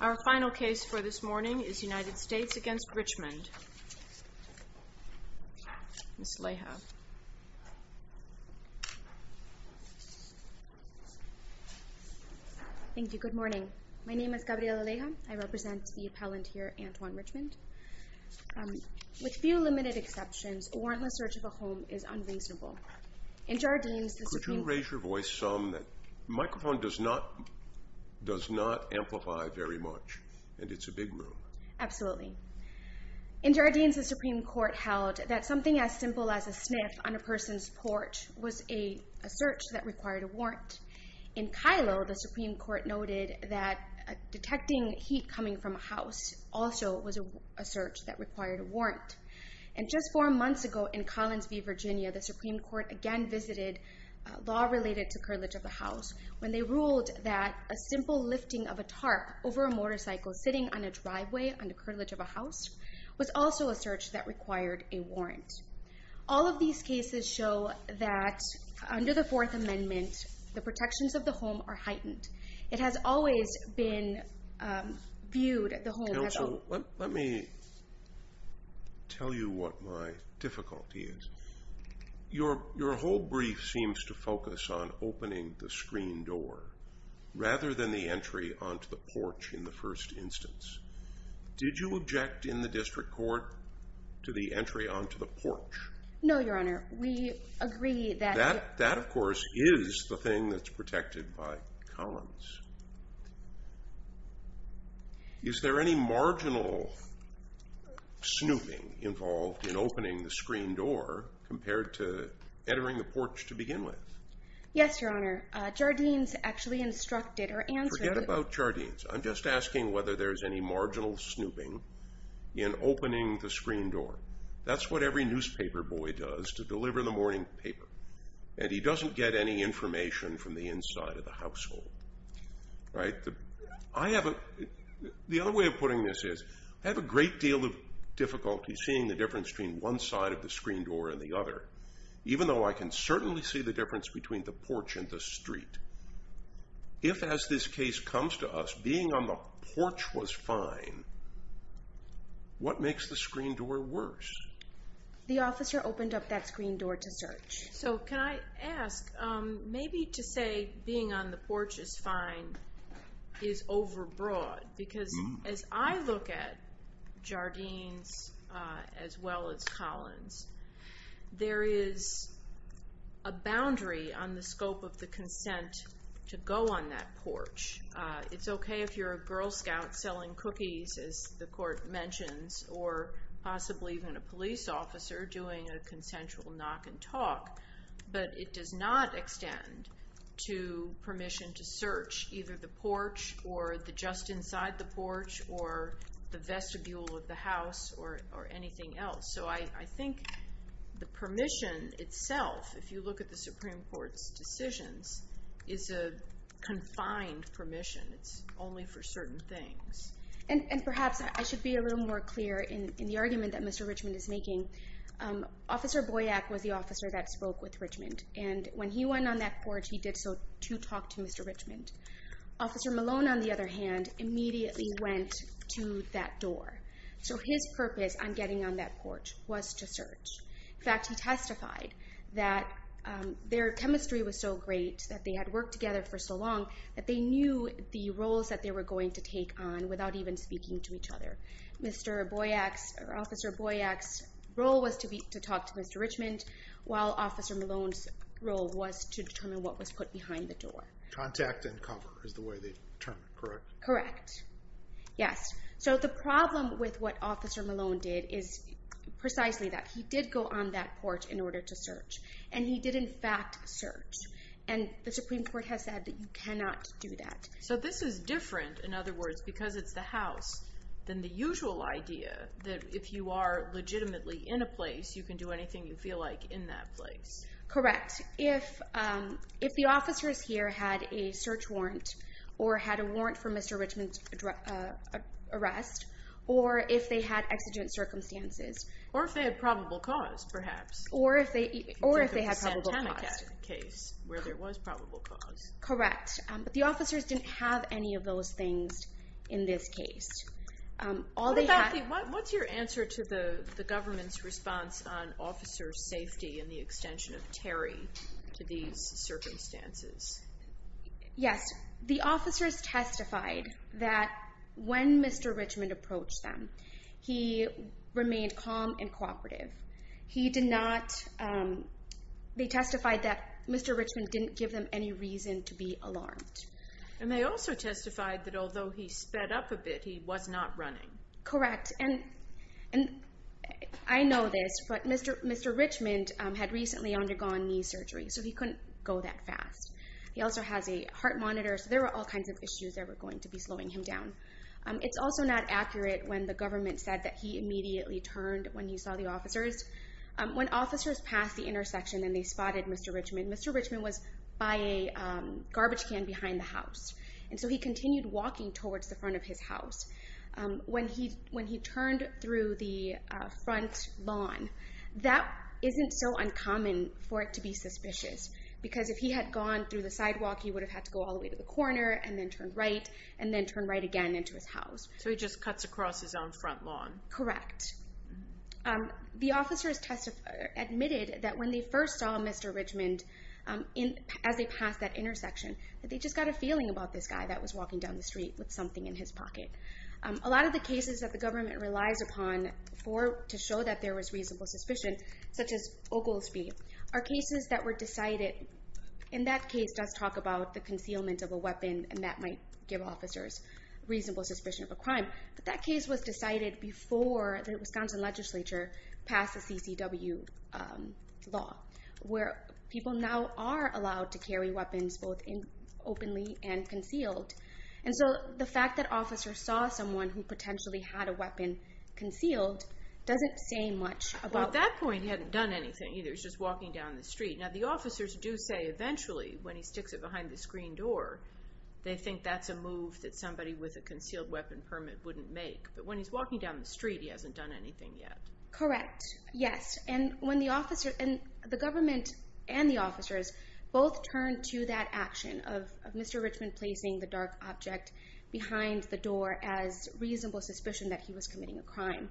Our final case for this morning is United States v. Richmond. Ms. Aleja. Thank you. Good morning. My name is Gabrielle Aleja. I represent the appellant here, Antoine Richmond. With few limited exceptions, a warrantless search of a home is unreasonable. In Jardines, the Supreme Court held that something as simple as a sniff on a person's porch was a search that required a warrant. In Kylo, the Supreme Court noted that detecting heat coming from a house also was a search that required a warrant. And just four months ago in Collins v. Virginia, the Supreme Court again visited law related to curtilage of a house when they ruled that a simple lifting of a tarp over a motorcycle sitting on a driveway under curtilage of a house was also a search that required a warrant. All of these cases show that under the Fourth Amendment, the protections of the home are heightened. It has always been viewed as the home has always been... Counsel, let me tell you what my difficulty is. Your whole brief seems to focus on opening the screen door rather than the entry onto the porch in the first instance. Did you object in the district court to the entry onto the porch? No, Your Honor. We agree that... That of course is the thing that's protected by Collins. Is there any marginal snooping involved in opening the screen door compared to entering the porch to begin with? Yes, Your Honor. Jardines actually instructed or answered... Forget about Jardines. I'm just asking whether there's any marginal snooping in opening the screen door. That's what every newspaper boy does to deliver the morning paper, and he doesn't get any information from the inside of the household. The other way of putting this is I have a great deal of difficulty seeing the difference between one side of the screen door and the other, even though I can certainly see the difference between the porch and the street. If, as this case comes to us, being on the porch was fine, what makes the screen door worse? The officer opened up that screen door to search. So can I ask, maybe to say being on the porch is fine is overbroad, because as I look at Collins, there is a boundary on the scope of the consent to go on that porch. It's okay if you're a Girl Scout selling cookies, as the court mentions, or possibly even a police officer doing a consensual knock and talk, but it does not extend to permission to search either the porch or the just inside the porch or the vestibule of the house or anything else. So I think the permission itself, if you look at the Supreme Court's decisions, is a confined permission. It's only for certain things. And perhaps I should be a little more clear in the argument that Mr. Richmond is making. Officer Boyack was the officer that spoke with Richmond, and when he went on that porch, he did so to talk to Mr. Richmond. Officer Malone, on the other hand, immediately went to that door. So his purpose on getting on that porch was to search. In fact, he testified that their chemistry was so great, that they had worked together for so long, that they knew the roles that they were going to take on without even speaking to each other. Mr. Boyack's, or Officer Boyack's role was to talk to Mr. Richmond, while Officer Malone's role was to determine what was put behind the door. Contact and cover is the way they determined, correct? Correct. Yes. So, the problem with what Officer Malone did is precisely that. He did go on that porch in order to search. And he did, in fact, search. And the Supreme Court has said that you cannot do that. So this is different, in other words, because it's the House, than the usual idea that if you are legitimately in a place, you can do anything you feel like in that place. Correct. But, if the officers here had a search warrant, or had a warrant for Mr. Richmond's arrest, or if they had exigent circumstances. Or if they had probable cause, perhaps. Or if they had probable cause. Think of the Santana case, where there was probable cause. Correct. But the officers didn't have any of those things in this case. All they had- What's your answer to the government's response on officer safety, and the extension of Terry to these circumstances? Yes. The officers testified that when Mr. Richmond approached them, he remained calm and cooperative. He did not- they testified that Mr. Richmond didn't give them any reason to be alarmed. And they also testified that although he sped up a bit, he was not running. Correct. And I know this, but Mr. Richmond had recently undergone knee surgery, so he couldn't go that fast. He also has a heart monitor, so there were all kinds of issues that were going to be slowing him down. It's also not accurate when the government said that he immediately turned when he saw the officers. When officers passed the intersection, and they spotted Mr. Richmond, Mr. Richmond was by a garbage can behind the house. And so he continued walking towards the front of his house. When he turned through the front lawn, that isn't so uncommon for it to be suspicious. Because if he had gone through the sidewalk, he would have had to go all the way to the corner, and then turn right, and then turn right again into his house. So he just cuts across his own front lawn. Correct. The officers admitted that when they first saw Mr. Richmond, as they passed that intersection, that they just got a feeling about this guy that was walking down the street with something in his pocket. A lot of the cases that the government relies upon to show that there was reasonable suspicion, such as Oglesby, are cases that were decided, and that case does talk about the concealment of a weapon, and that might give officers reasonable suspicion of a crime. But that case was decided before the Wisconsin legislature passed the CCW law, where people now are allowed to carry weapons both openly and concealed. And so the fact that officers saw someone who potentially had a weapon concealed doesn't say much about... Well, at that point, he hadn't done anything, either. He was just walking down the street. Now, the officers do say, eventually, when he sticks it behind the screen door, they think that's a move that somebody with a concealed weapon permit wouldn't make. But when he's walking down the street, he hasn't done anything yet. Correct. Yes. And when the officer... And the government and the officers both turned to that action of Mr. Richmond placing the dark object behind the door as reasonable suspicion that he was committing a crime.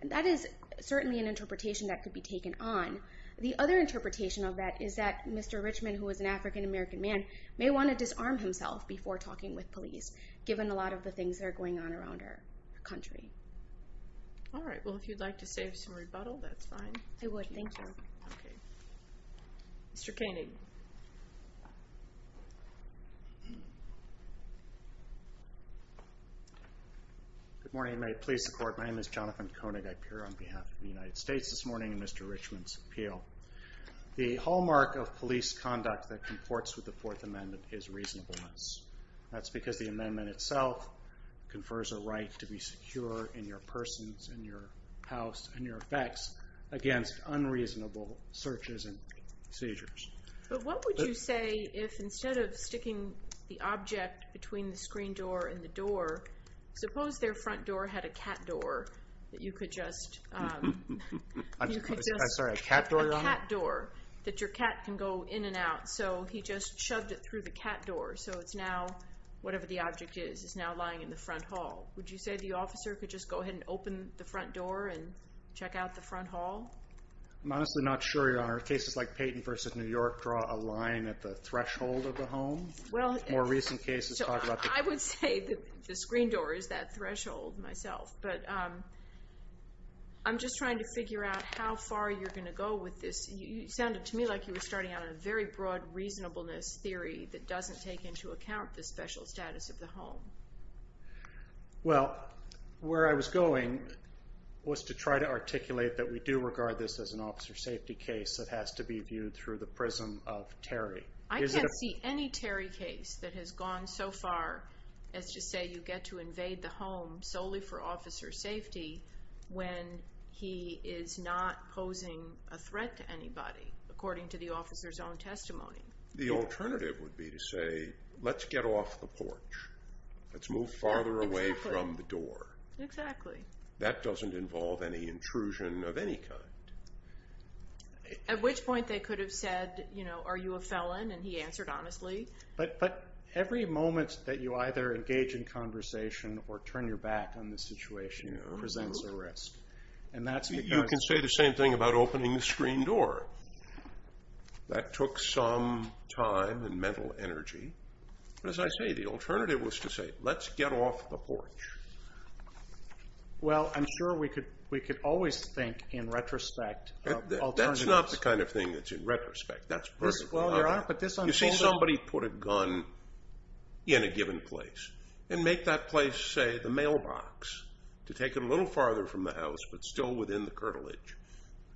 And that is certainly an interpretation that could be taken on. The other interpretation of that is that Mr. Richmond, who is an African-American man, may want to disarm himself before talking with police, given a lot of the things that are going on around our country. All right. Well, if you'd like to say some rebuttal, that's fine. I would. Thank you. Okay. Mr. Canning. Good morning. May it please the Court. My name is Jonathan Koenig. I appear on behalf of the United States this morning in Mr. Richmond's appeal. The hallmark of police conduct that comports with the Fourth Amendment is reasonableness. That's because the amendment itself confers a right to be secure in your persons, in your house, and your effects against unreasonable searches and seizures. But what would you say if instead of sticking the object between the screen door and the door, suppose their front door had a cat door that you could just... I'm sorry, a cat door, Your Honor? A cat door that your cat can go in and out. So he just shoved it through the cat door. So it's now, whatever the object is, it's now lying in the front hall. Would you say the officer could just go ahead and open the front door and check out the front hall? I'm honestly not sure, Your Honor. Cases like Payton v. New York draw a line at the threshold of the home. Well... More recent cases talk about... I would say that the screen door is that threshold myself. But I'm just trying to figure out how far you're going to go with this. You sounded to me like you were starting out on a very broad reasonableness theory that doesn't take into account the special status of the home. Well, where I was going was to try to articulate that we do regard this as an officer safety case that has to be viewed through the prism of Terry. I can't see any Terry case that has gone so far as to say you get to invade the home solely for officer safety when he is not posing a threat to anybody, according to the officer's own testimony. The alternative would be to say, let's get off the porch. Let's move farther away from the door. Exactly. That doesn't involve any intrusion of any kind. At which point they could have said, are you a felon? And he answered honestly. But every moment that you either engage in conversation or turn your back on the situation presents a risk. You can say the same thing about opening the screen door. That took some time and mental energy. But as I say, the alternative was to say, let's get off the porch. Well, I'm sure we could always think in retrospect of alternatives. That's not the kind of thing that's in retrospect. That's personal. You see somebody put a gun in a given place and make that place, say, the mailbox to take it a little farther from the house but still within the curtilage.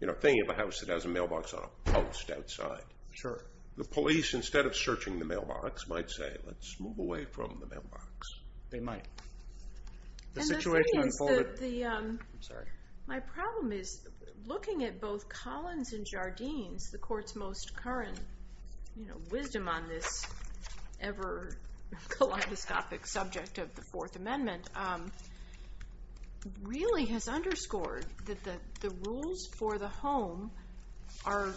You know, think of a house that has a mailbox on a post outside. Sure. The police, instead of searching the mailbox, might say, let's move away from the mailbox. They might. The situation unfolded. I'm sorry. My problem is looking at both Collins and Jardines, the court's most current wisdom on this ever kaleidoscopic subject of the Fourth Amendment, really has underscored that the rules for the home are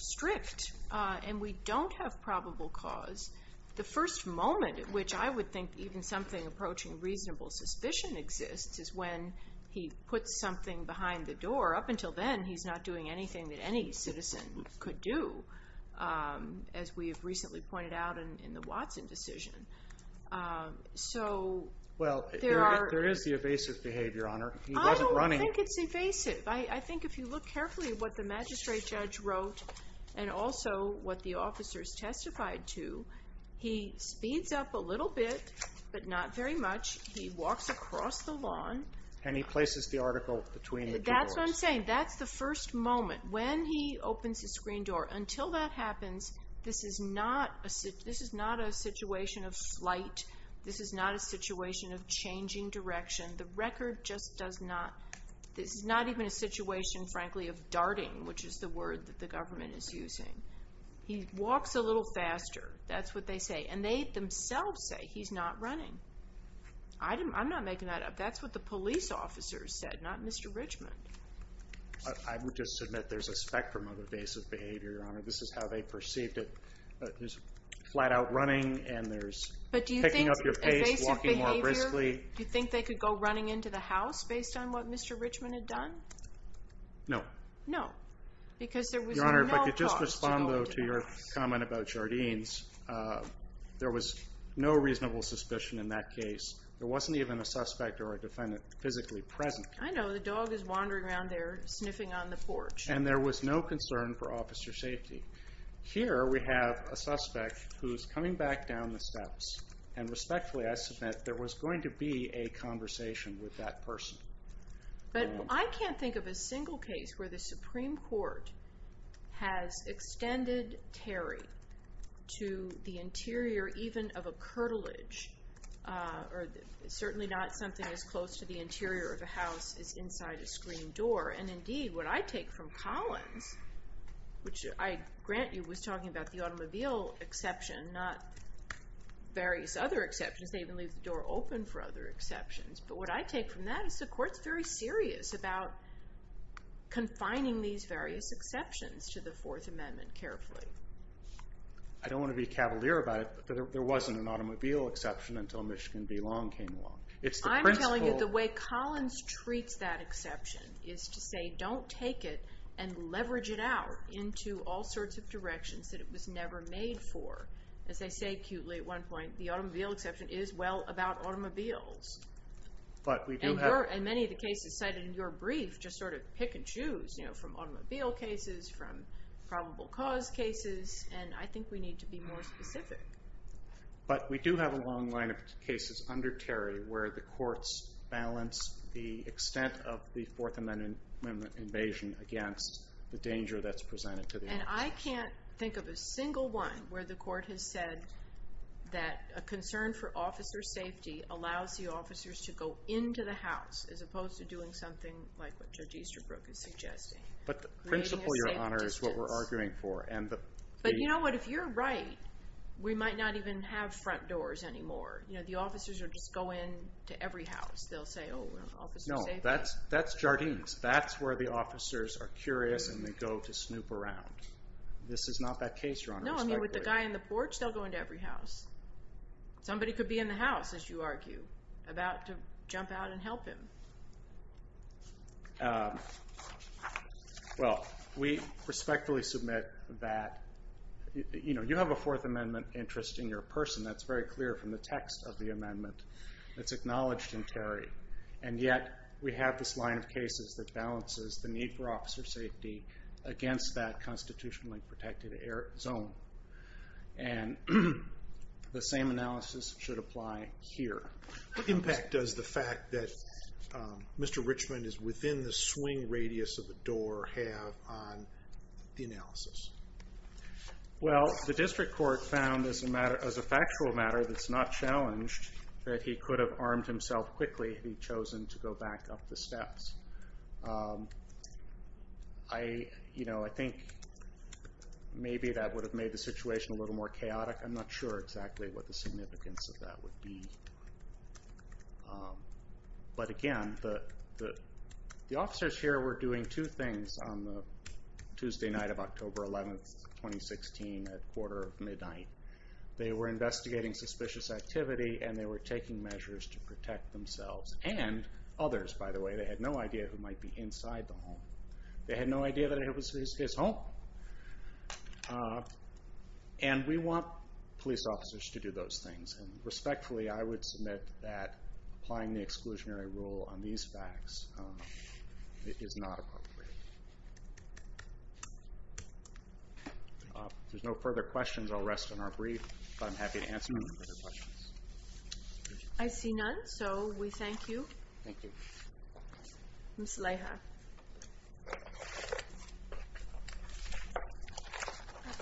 strict. And we don't have probable cause. The first moment at which I would think even something approaching reasonable suspicion exists is when he puts something behind the door. Up until then, he's not doing anything that any citizen could do, as we have recently pointed out in the Watson decision. Well, there is the evasive behavior on her. I don't think it's evasive. I think if you look carefully at what the magistrate judge wrote and also what the officers testified to, he speeds up a little bit but not very much. He walks across the lawn. And he places the article between the two doors. That's what I'm saying. That's the first moment. When he opens the screen door, until that happens, this is not a situation of flight. This is not a situation of changing direction. The record just does not. This is not even a situation, frankly, of darting, which is the word that the government is using. He walks a little faster. That's what they say. And they themselves say he's not running. I'm not making that up. That's what the police officers said, not Mr. Richmond. I would just submit there's a spectrum of evasive behavior, Your Honor. This is how they perceived it. There's flat-out running, and there's picking up your pace, walking more briskly. But do you think evasive behavior, do you think they could go running into the house based on what Mr. Richmond had done? No. No. Because there was no cause to hold him. Your Honor, if I could just respond, though, to your comment about Jardines. There was no reasonable suspicion in that case. There wasn't even a suspect or a defendant physically present. I know. The dog is wandering around there, sniffing on the porch. And there was no concern for officer safety. Here we have a suspect who's coming back down the steps. And respectfully, I submit there was going to be a conversation with that person. But I can't think of a single case where the Supreme Court has extended Terry to the interior even of a curtilage, or certainly not something as close to the interior of a house as inside a screen door. And indeed, what I take from Collins, which I grant you was talking about the automobile exception, not various other exceptions. They even leave the door open for other exceptions. But what I take from that is the Court's very serious about confining these various exceptions to the Fourth Amendment carefully. I don't want to be cavalier about it, but there wasn't an automobile exception until Michigan v. Long came along. I'm telling you the way Collins treats that exception is to say don't take it and leverage it out into all sorts of directions that it was never made for. As I say cutely at one point, the automobile exception is well about automobiles. And many of the cases cited in your brief just sort of pick and choose from automobile cases, from probable cause cases. And I think we need to be more specific. But we do have a long line of cases under Terry where the Courts balance the extent of the Fourth Amendment invasion against the danger that's presented to the automobile. And I can't think of a single one where the Court has said that a concern for officer safety allows the officers to go into the house as opposed to doing something like what Judge Easterbrook is suggesting. But the principle, Your Honor, is what we're arguing for. But you know what, if you're right, we might not even have front doors anymore. The officers will just go into every house. No, that's Jardines. That's where the officers are curious and they go to snoop around. This is not that case, Your Honor. No, I mean with the guy on the porch, they'll go into every house. Somebody could be in the house, as you argue, about to jump out and help him. Well, we respectfully submit that you have a Fourth Amendment interest in your person that's very clear from the text of the amendment that's acknowledged in Terry. And yet we have this line of cases that balances the need for officer safety against that constitutionally protected zone. And the same analysis should apply here. What impact does the fact that Mr. Richmond is within the swing radius of the door have on the analysis? Well, the district court found as a factual matter that's not challenged that he could have armed himself quickly if he'd chosen to go back up the steps. I think maybe that would have made the situation a little more chaotic. I'm not sure exactly what the significance of that would be. But again, the officers here were doing two things on the Tuesday night of October 11, 2016 at quarter of midnight. They were investigating suspicious activity and they were taking measures to protect themselves and others, by the way. They had no idea who might be inside the home. They had no idea that it was his home. And we want police officers to do those things. Respectfully, I would submit that applying the exclusionary rule on these facts is not appropriate. If there's no further questions, I'll rest in our brief. But I'm happy to answer any further questions. I see none, so we thank you. Thank you. Ms. Leija.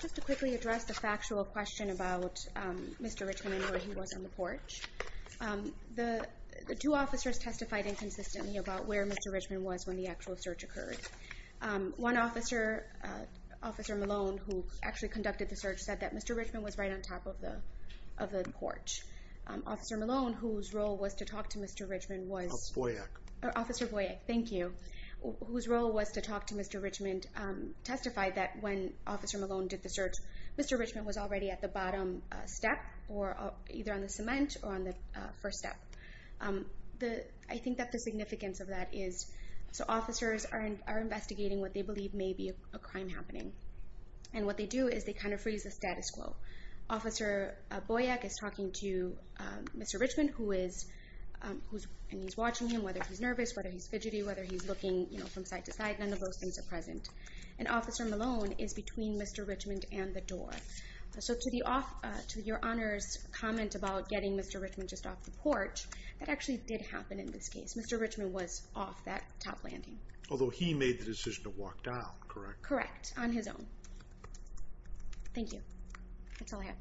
Just to quickly address the factual question about Mr. Richmond and where he was on the porch. The two officers testified inconsistently about where Mr. Richmond was when the actual search occurred. One officer, Officer Malone, who actually conducted the search, said that Mr. Richmond was right on top of the porch. Officer Malone, whose role was to talk to Mr. Richmond, whose role was to talk to Mr. Richmond, testified that when Officer Malone did the search, Mr. Richmond was already at the bottom step either on the cement or on the first step. I think that the significance of that is officers are investigating what they believe may be a crime happening. And what they do is they freeze the status quo. Officer Boyack is talking to Mr. Richmond, and he's watching him, whether he's nervous, whether he's fidgety, whether he's looking from side to side. None of those things are present. And Officer Malone is between Mr. Richmond and the door. To your Honor's comment about getting Mr. Richmond just off the porch, that actually did happen in this case. Mr. Richmond was off that top landing. Although he made the decision to walk down, correct? Correct. On his own. Thank you. That's all I have.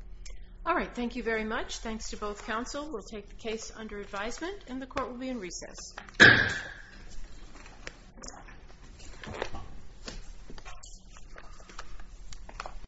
All right. Thank you very much. Thanks to both counsel. We'll take the case under advisement, and the court will be in recess.